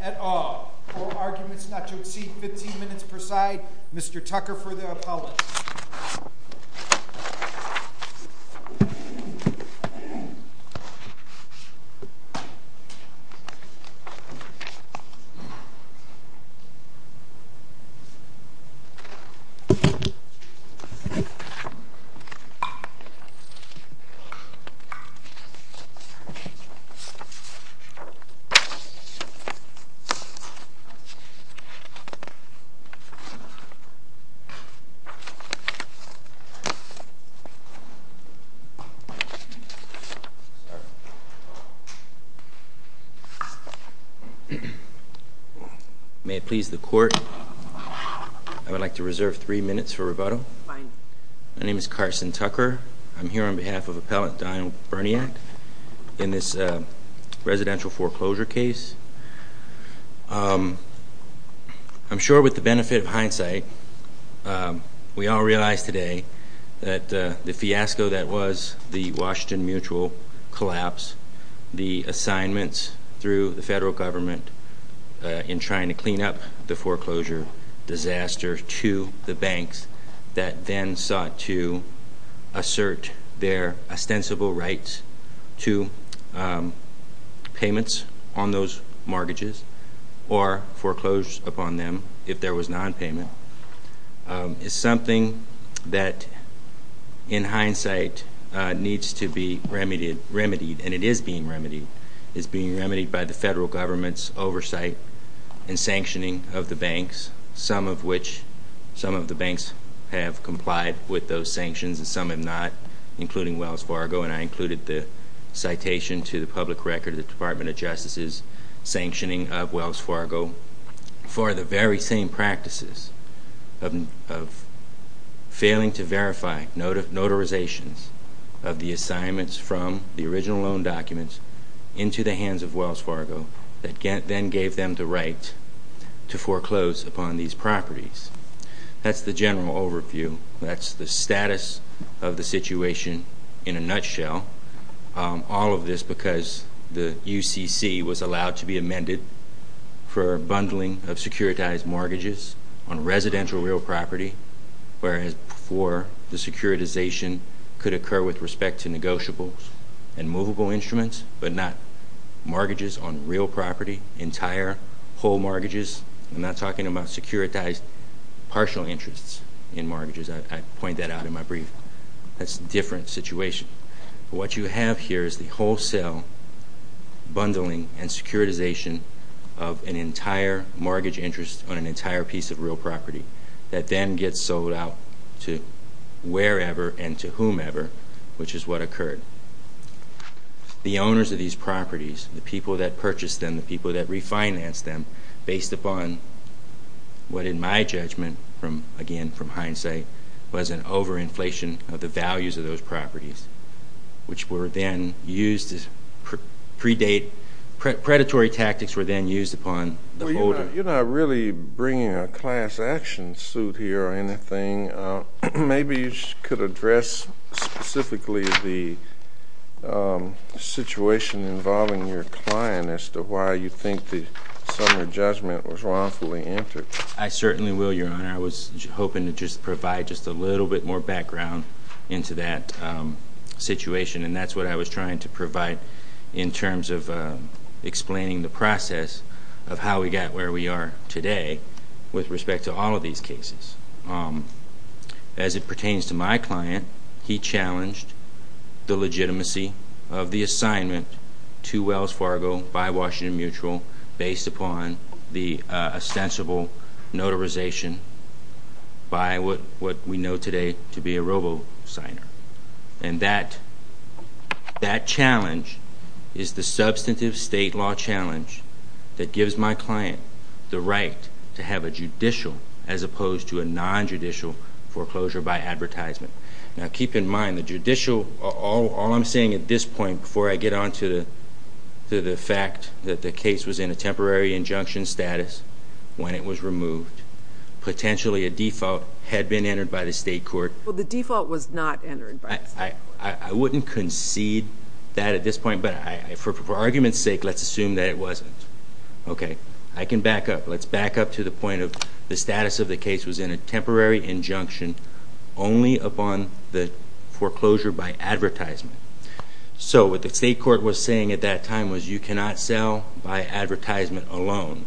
et al. For arguments not to exceed 15 minutes per side, Mr. Tucker for the appellate. May it please the court, I would like to reserve three minutes for the appellate to make a rebuttal. My name is Carson Tucker. I'm here on behalf of appellate Donald Burniac in this residential foreclosure case. I'm sure with the benefit of hindsight, we all realize today that the fiasco that was the Washington Mutual collapse, the assignments through the federal government in trying to clean up the foreclosure disaster to the banks that then sought to assert their ostensible rights to payments on those mortgages or foreclosures upon them if there was non-payment, is something that in hindsight needs to be remedied, and it is being some of the banks have complied with those sanctions and some have not, including Wells Fargo, and I included the citation to the public record of the Department of Justice's sanctioning of Wells Fargo for the very same practices of failing to verify notarizations of the assignments from the original loan documents into the hands of Wells Fargo that then gave them the right to foreclose upon these properties. That's the general overview. That's the status of the situation in a nutshell. All of this because the UCC was allowed to be amended for bundling of securitized mortgages on residential real property, whereas for the securitization could occur with respect to negotiables and movable instruments, but not whole mortgages. I'm not talking about securitized partial interests in mortgages. I point that out in my brief. That's a different situation. What you have here is the wholesale bundling and securitization of an entire mortgage interest on an entire piece of real property that then gets sold out to wherever and to whomever, which is what occurred. The owners of these properties financed them based upon what in my judgment, again from hindsight, was an overinflation of the values of those properties, which were then used as predatory tactics were then used upon the holder. You're not really bringing a class action suit here or anything. Maybe you could address specifically the situation involving your client as to why you think the summary judgment was wrongfully entered. I certainly will, Your Honor. I was hoping to just provide just a little bit more background into that situation, and that's what I was trying to provide in terms of explaining the process of how we got where we are today with respect to all of these cases. As it pertains to my client, he challenged the legitimacy of the assignment to Wells Fargo by Washington Mutual based upon the ostensible notarization by what we know today to be a robo-signer. And that challenge is the substantive state law challenge that gives my client the right to have a judicial as opposed to a non-judicial foreclosure by advertisement. Now, keep in mind the judicial, all I'm saying at this point before I get on to the fact that the case was in a temporary injunction status when it was removed, potentially a default had been entered by the state court. Well, the default was not entered. I wouldn't concede that at this point, but for argument's sake, let's assume that it wasn't. Okay. I can back up. Let's back up to the point of the status of the case was in a temporary injunction only upon the foreclosure by advertisement. So what the state court was saying at that time was you cannot sell by advertisement alone.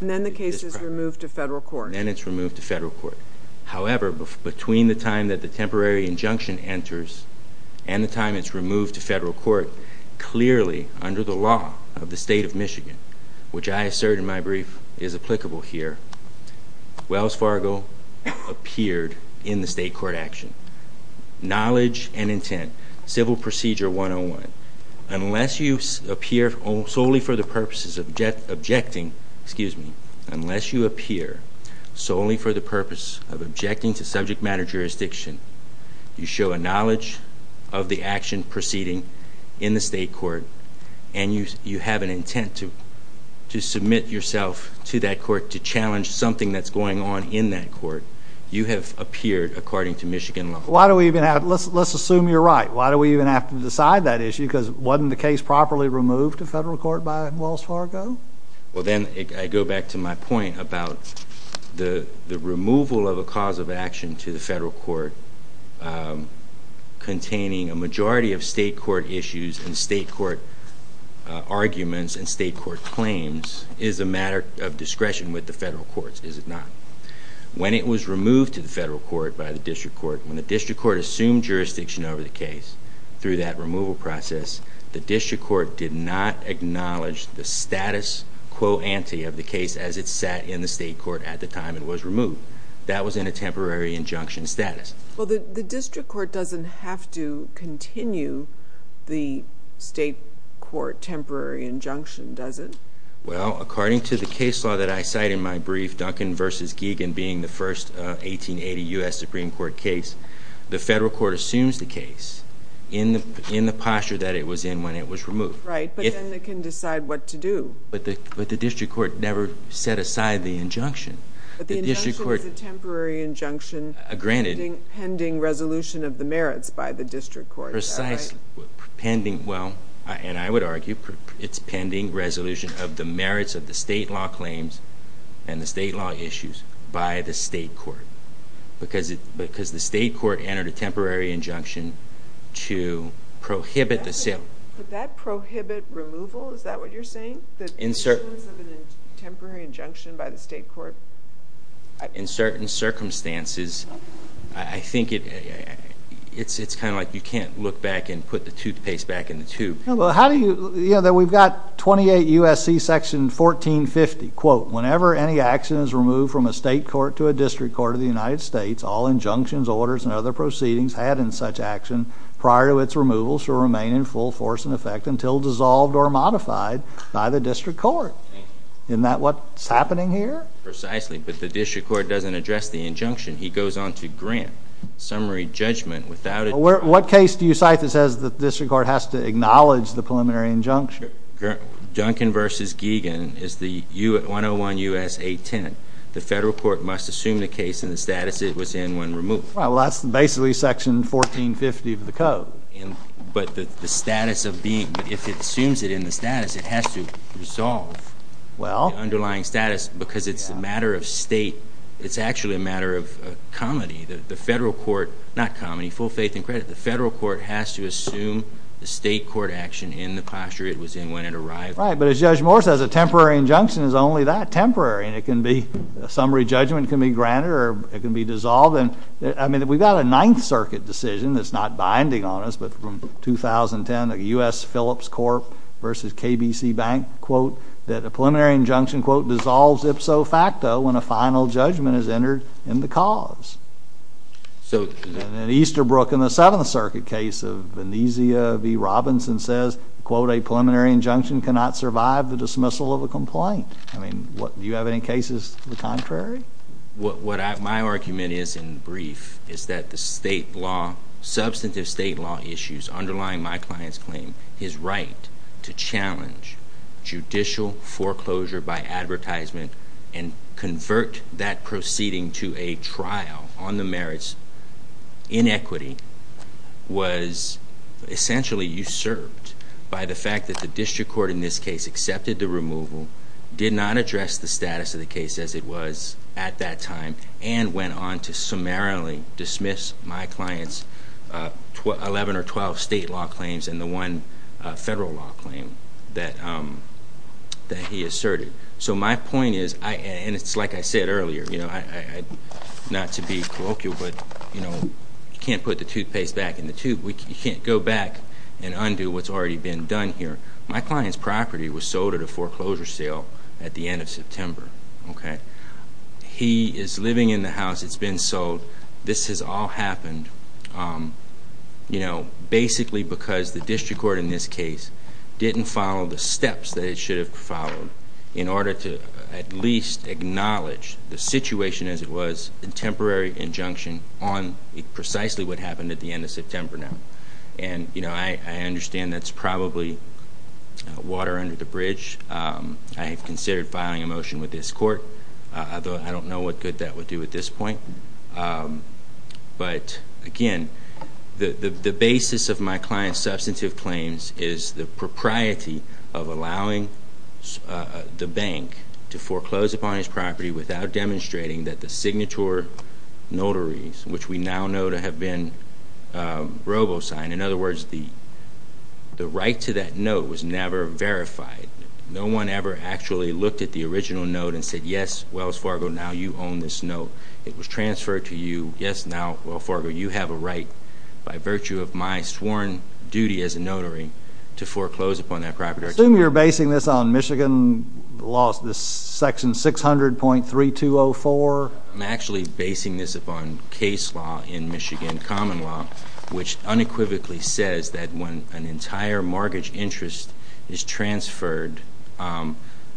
And then the case is removed to federal court. And it's removed to federal court. However, between the time that the temporary injunction enters and the time it's removed to federal court, clearly under the law of the state of Michigan, which I assert in my brief is applicable here, Wells Fargo appeared in the state court action. Knowledge and intent. Civil procedure 101. Unless you appear solely for the purposes of objecting, excuse me, unless you appear solely for the purpose of objecting to subject matter jurisdiction, you show a knowledge of the action proceeding in the state court, and you have an intent to Let's assume you're right. Why do we even have to decide that issue? Because wasn't the case properly removed to federal court by Wells Fargo? Well, then I go back to my point about the removal of a cause of action to the federal court containing a majority of state court issues and state court arguments and state court claims is a matter of discretion with the federal courts, is it not? When it was removed to the federal court by the district court, when the district court assumed jurisdiction over the case through that removal process, the district court did not acknowledge the status quo ante of the case as it sat in the state court at the time it was removed. That was in a temporary injunction status. Well, the district court doesn't have to continue the state court temporary injunction, does it? Well, according to the case law that I cite in my brief, Duncan v. Giegen being the first 1880 U.S. Supreme Court case, the federal court assumes the case in the posture that it was in when it was removed. Right, but then they can decide what to do. But the district court never set aside the injunction. But the injunction is a temporary injunction pending resolution of the merits by the district court, is that right? Well, and I would argue it's pending resolution of the merits of the state law claims and the state law issues by the state court because the state court entered a temporary injunction to prohibit the sale. But that prohibit removal, is that what you're saying? In certain... The issuance of a temporary injunction by the state court? In certain circumstances, I think it's kind of like you can't look back and put the toothpaste back in the tube. How do you, you know, we've got 28 U.S.C. section 1450, quote, whenever any action is removed from a state court to a district court of the United States, all injunctions, orders, and other proceedings had in such action prior to its removal shall remain in full force and effect until dissolved or modified by the district court. Isn't that what's happening here? Precisely, but the district court doesn't address the injunction. He goes on to grant summary judgment without... What case do you cite that says the district court has to acknowledge the preliminary injunction? Duncan v. Giegan is the 101 U.S. 810. The federal court must assume the case in the status it was in when removed. But the status of being... But if it assumes it in the status, it has to resolve the underlying status because it's a matter of state. It's actually a matter of comity. The federal court... Not comity. Full faith and credit. The federal court has to assume the state court action in the posture it was in when it arrived. Right, but as Judge Moore says, a temporary injunction is only that, temporary. Summary judgment can be granted or it can be dissolved. I mean, we've got a Ninth Circuit decision that's not binding on us, but from 2010, a U.S. Phillips Corp. v. KBC Bank, quote, that a preliminary injunction, quote, dissolves ipso facto when a final judgment is entered in the cause. So... And then Easterbrook in the Seventh Circuit case of Venezia v. Robinson says, quote, a preliminary injunction cannot survive the dismissal of a complaint. I mean, do you have any cases to the contrary? What my argument is in brief is that the state law, substantive state law issues underlying my client's claim, his right to challenge judicial foreclosure by advertisement and convert that proceeding to a trial on the merits in equity was essentially usurped by the fact that the district court in this case accepted the removal, did not address the status of the case as it was at that time, and went on to summarily dismiss my client's 11 or 12 state law claims and the one federal law claim that he asserted. So my point is, and it's like I said earlier, not to be colloquial, but you can't put the toothpaste back in the tube. You can't go back and undo what's already been done here. My client's property was sold at a foreclosure sale at the end of September. He is living in the house. It's been sold. This has all happened basically because the district court in this case didn't follow the steps that it should have followed in order to at least acknowledge the situation as it was, a temporary injunction on precisely what happened at the end of September now. I understand that's probably water under the bridge. I have considered filing a motion with this court, although I don't know what good that would do at this point. But again, the basis of my client's substantive claims is the propriety of allowing the bank to foreclose upon his property without demonstrating that the signature notaries, which we now know to have been robo-signed, in other words, the right to that note was never verified. No one ever actually looked at the original note and said, yes, Wells Fargo, now you own this note. It was transferred to you. Yes, now, Wells Fargo, you have a right by virtue of my sworn duty as a notary to foreclose upon that property. Assume you're basing this on Michigan laws, this section 600.3204. I'm actually basing this upon case law in Michigan common law, which unequivocally says that when an entire mortgage interest is transferred,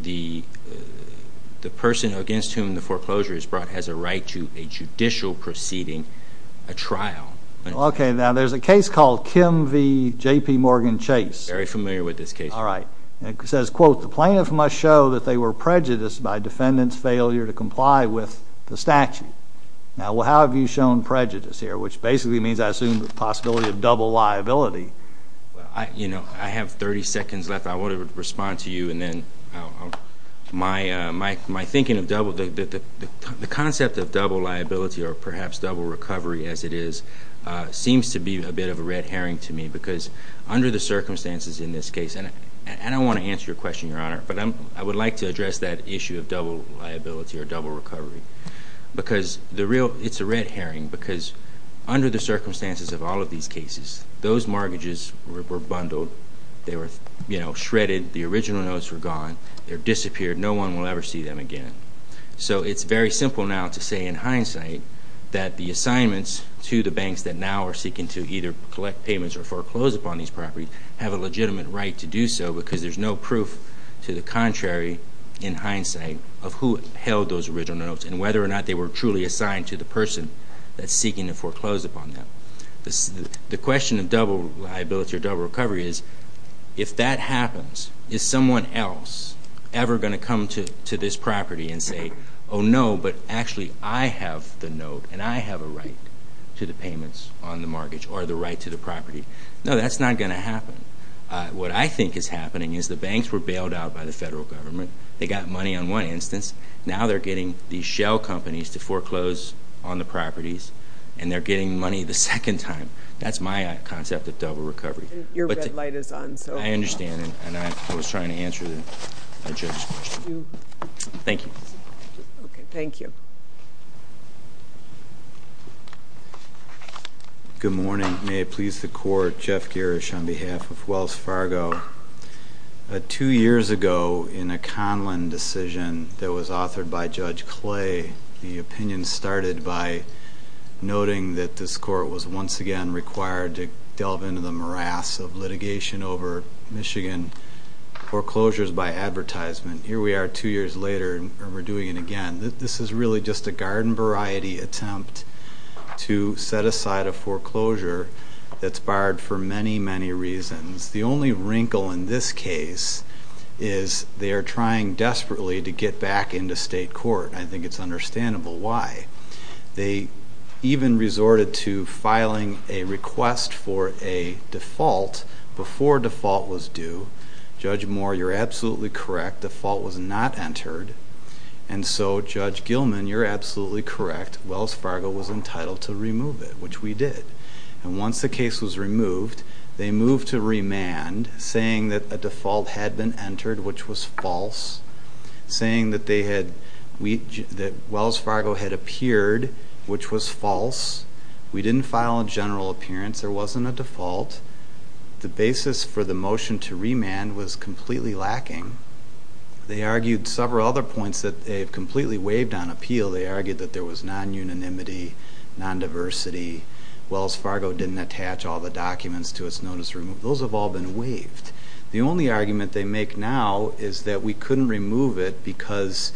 the person against whom the foreclosure is brought has a right to a judicial proceeding, a trial. Okay, now there's a case called Kim v. J.P. Morgan Chase. I'm very familiar with this case. All right. It says, quote, the plaintiff must show that they were prejudiced by defendant's failure to comply with the statute. Now, how have you shown prejudice here, which basically means I assume the possibility of double liability. You know, I have 30 seconds left. I want to respond to you, and then my thinking of the concept of double liability or perhaps double recovery as it is seems to be a bit of a red herring to me because under the circumstances in this case, and I don't want to answer your question, Your Honor, but I would like to address that issue of double liability or double recovery because it's a red herring because under the circumstances of all of these cases, those mortgages were bundled. They were shredded. The original notes were gone. They disappeared. No one will ever see them again. So it's very simple now to say in hindsight that the assignments to the banks that now are seeking to either collect payments or foreclose upon these properties have a legitimate right to do so because there's no proof to the contrary in hindsight of who held those original notes and whether or not they were truly assigned to the person that's seeking to foreclose upon them. The question of double liability or double recovery is if that happens, is someone else ever going to come to this property and say, oh, no, but actually I have the note and I have a right to the payments on the mortgage or the right to the property? No, that's not going to happen. What I think is happening is the banks were bailed out by the federal government. They got money on one instance. Now they're getting these shell companies to foreclose on the properties and they're getting money the second time. That's my concept of double recovery. Your red light is on. I understand, and I was trying to answer the judge's question. Thank you. Okay, thank you. Good morning. May it please the Court, Jeff Gerish on behalf of Wells Fargo. Two years ago in a Conlon decision that was authored by Judge Clay, the opinion started by noting that this court was once again required to delve into the morass of litigation over Michigan foreclosures by advertisement. Here we are two years later and we're doing it again. This is really just a garden variety attempt to set aside a foreclosure that's barred for many, many reasons. The only wrinkle in this case is they are trying desperately to get back into state court. I think it's understandable why. They even resorted to filing a request for a default before default was due. Judge Moore, you're absolutely correct. Default was not entered, and so, Judge Gilman, you're absolutely correct. Wells Fargo was entitled to remove it, which we did. Once the case was removed, they moved to remand, saying that a default had been entered, which was false, saying that Wells Fargo had appeared, which was false. We didn't file a general appearance. There wasn't a default. The basis for the motion to remand was completely lacking. They argued several other points that they've completely waived on appeal. They argued that there was non-unanimity, non-diversity. Wells Fargo didn't attach all the documents to its notice to remove. Those have all been waived. The only argument they make now is that we couldn't remove it because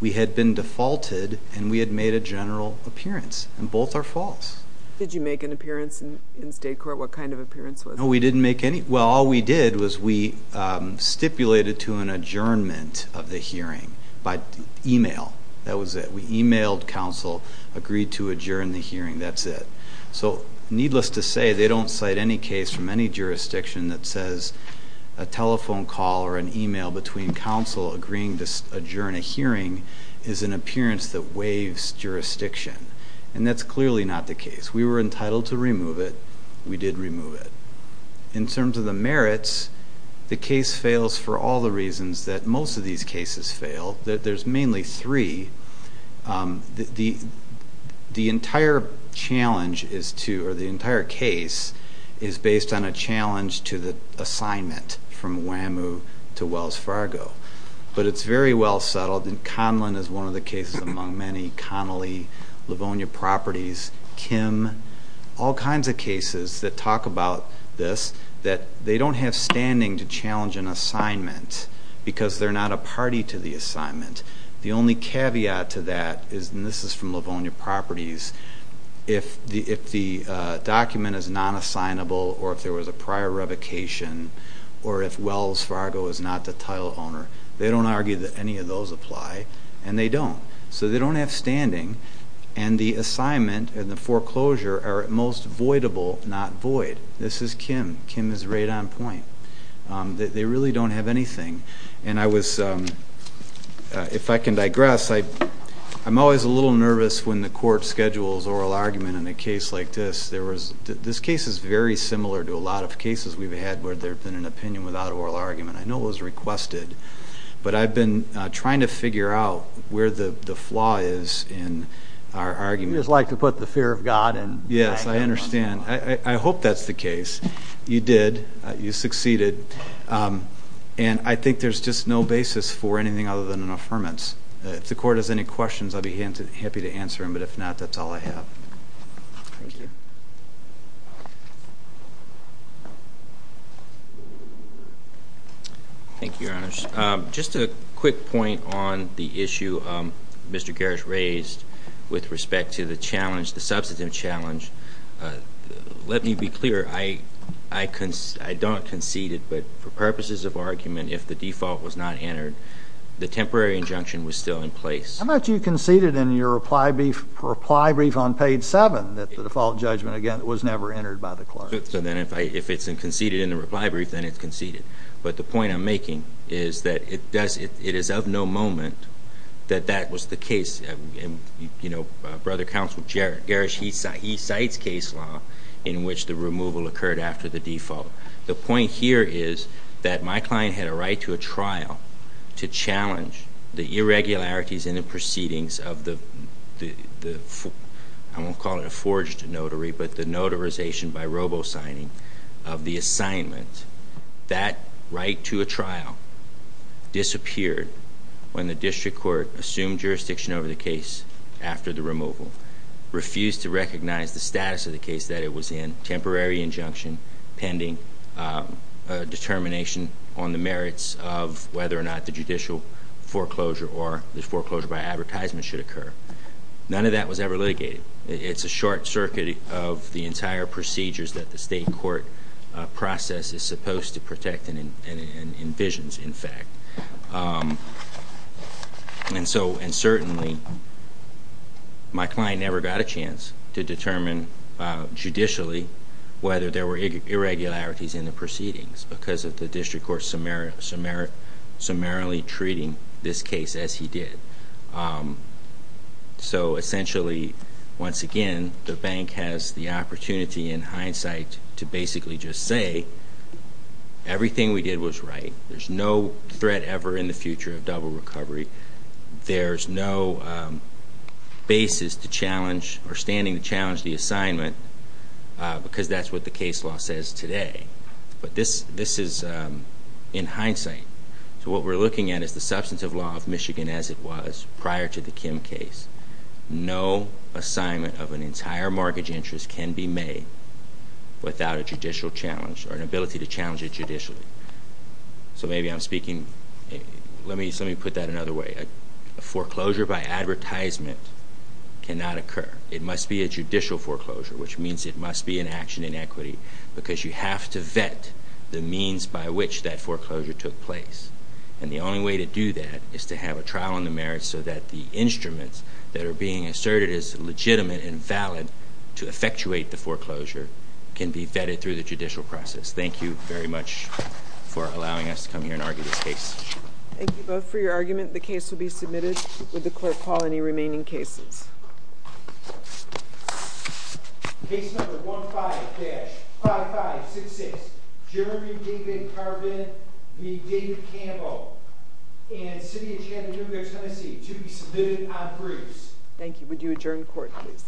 we had been defaulted and we had made a general appearance, and both are false. Did you make an appearance in state court? What kind of appearance was it? No, we didn't make any. Well, all we did was we stipulated to an adjournment of the hearing by e-mail. That was it. We e-mailed counsel, agreed to adjourn the hearing. That's it. Needless to say, they don't cite any case from any jurisdiction that says a telephone call or an e-mail between counsel agreeing to adjourn a hearing is an appearance that waives jurisdiction, and that's clearly not the case. We were entitled to remove it. We did remove it. In terms of the merits, the case fails for all the reasons that most of these cases fail. There's mainly three. The entire challenge is to, or the entire case, is based on a challenge to the assignment from Wham-oo to Wells Fargo. But it's very well settled, and Conlon is one of the cases among many, Connolly, Livonia Properties, Kim, all kinds of cases that talk about this, that they don't have standing to challenge an assignment because they're not a party to the assignment. The only caveat to that is, and this is from Livonia Properties, if the document is non-assignable or if there was a prior revocation or if Wells Fargo is not the title owner, they don't argue that any of those apply, and they don't. So they don't have standing, and the assignment and the foreclosure are at most voidable, not void. This is Kim. Kim is right on point. They really don't have anything. And I was, if I can digress, I'm always a little nervous when the court schedules oral argument in a case like this. This case is very similar to a lot of cases we've had where there's been an opinion without oral argument. I know it was requested, but I've been trying to figure out where the flaw is in our argument. You just like to put the fear of God in. Yes, I understand. I hope that's the case. You did. You succeeded. And I think there's just no basis for anything other than an affirmance. If the court has any questions, I'd be happy to answer them, but if not, that's all I have. Thank you. Thank you, Your Honors. Just a quick point on the issue Mr. Garris raised with respect to the challenge, the substantive challenge. Let me be clear. I don't concede it, but for purposes of argument, if the default was not entered, the temporary injunction was still in place. How much you conceded in your reply brief on page 7 that the default judgment against you was not entered? It was never entered by the clerk. If it's conceded in the reply brief, then it's conceded. But the point I'm making is that it is of no moment that that was the case. Brother Counsel Garris, he cites case law in which the removal occurred after the default. The point here is that my client had a right to a trial to challenge the irregularities in the proceedings of the, I won't call it a forged notary, but the notarization by robo-signing of the assignment. That right to a trial disappeared when the district court assumed jurisdiction over the case after the removal, refused to recognize the status of the case that it was in, temporary injunction pending determination on the merits of whether or not the judicial foreclosure or the foreclosure by advertisement should occur. None of that was ever litigated. It's a short circuit of the entire procedures that the state court process is supposed to protect and envisions, in fact. And certainly, my client never got a chance to determine judicially whether there were irregularities in the proceedings because of the district court summarily treating this case as he did. So essentially, once again, the bank has the opportunity in hindsight to basically just say, everything we did was right. There's no threat ever in the future of double recovery. There's no basis to challenge or standing to challenge the assignment because that's what the case law says today. But this is in hindsight. So what we're looking at is the substance of law of Michigan as it was prior to the Kim case. No assignment of an entire mortgage interest can be made without a judicial challenge or an ability to challenge it judicially. So maybe I'm speaking, let me put that another way. A foreclosure by advertisement cannot occur. It must be a judicial foreclosure, which means it must be an action in equity because you have to vet the means by which that foreclosure took place. And the only way to do that is to have a trial on the merits so that the instruments that are being asserted as legitimate and valid to effectuate the foreclosure can be vetted through the judicial process. Thank you very much for allowing us to come here and argue this case. Thank you both for your argument. The case will be submitted. Would the clerk call any remaining cases? Case number 15-5566, Jeremy David Carbon v. David Campbell in the city of Chattanooga, Tennessee, to be submitted on briefs. Thank you. Would you adjourn the court, please?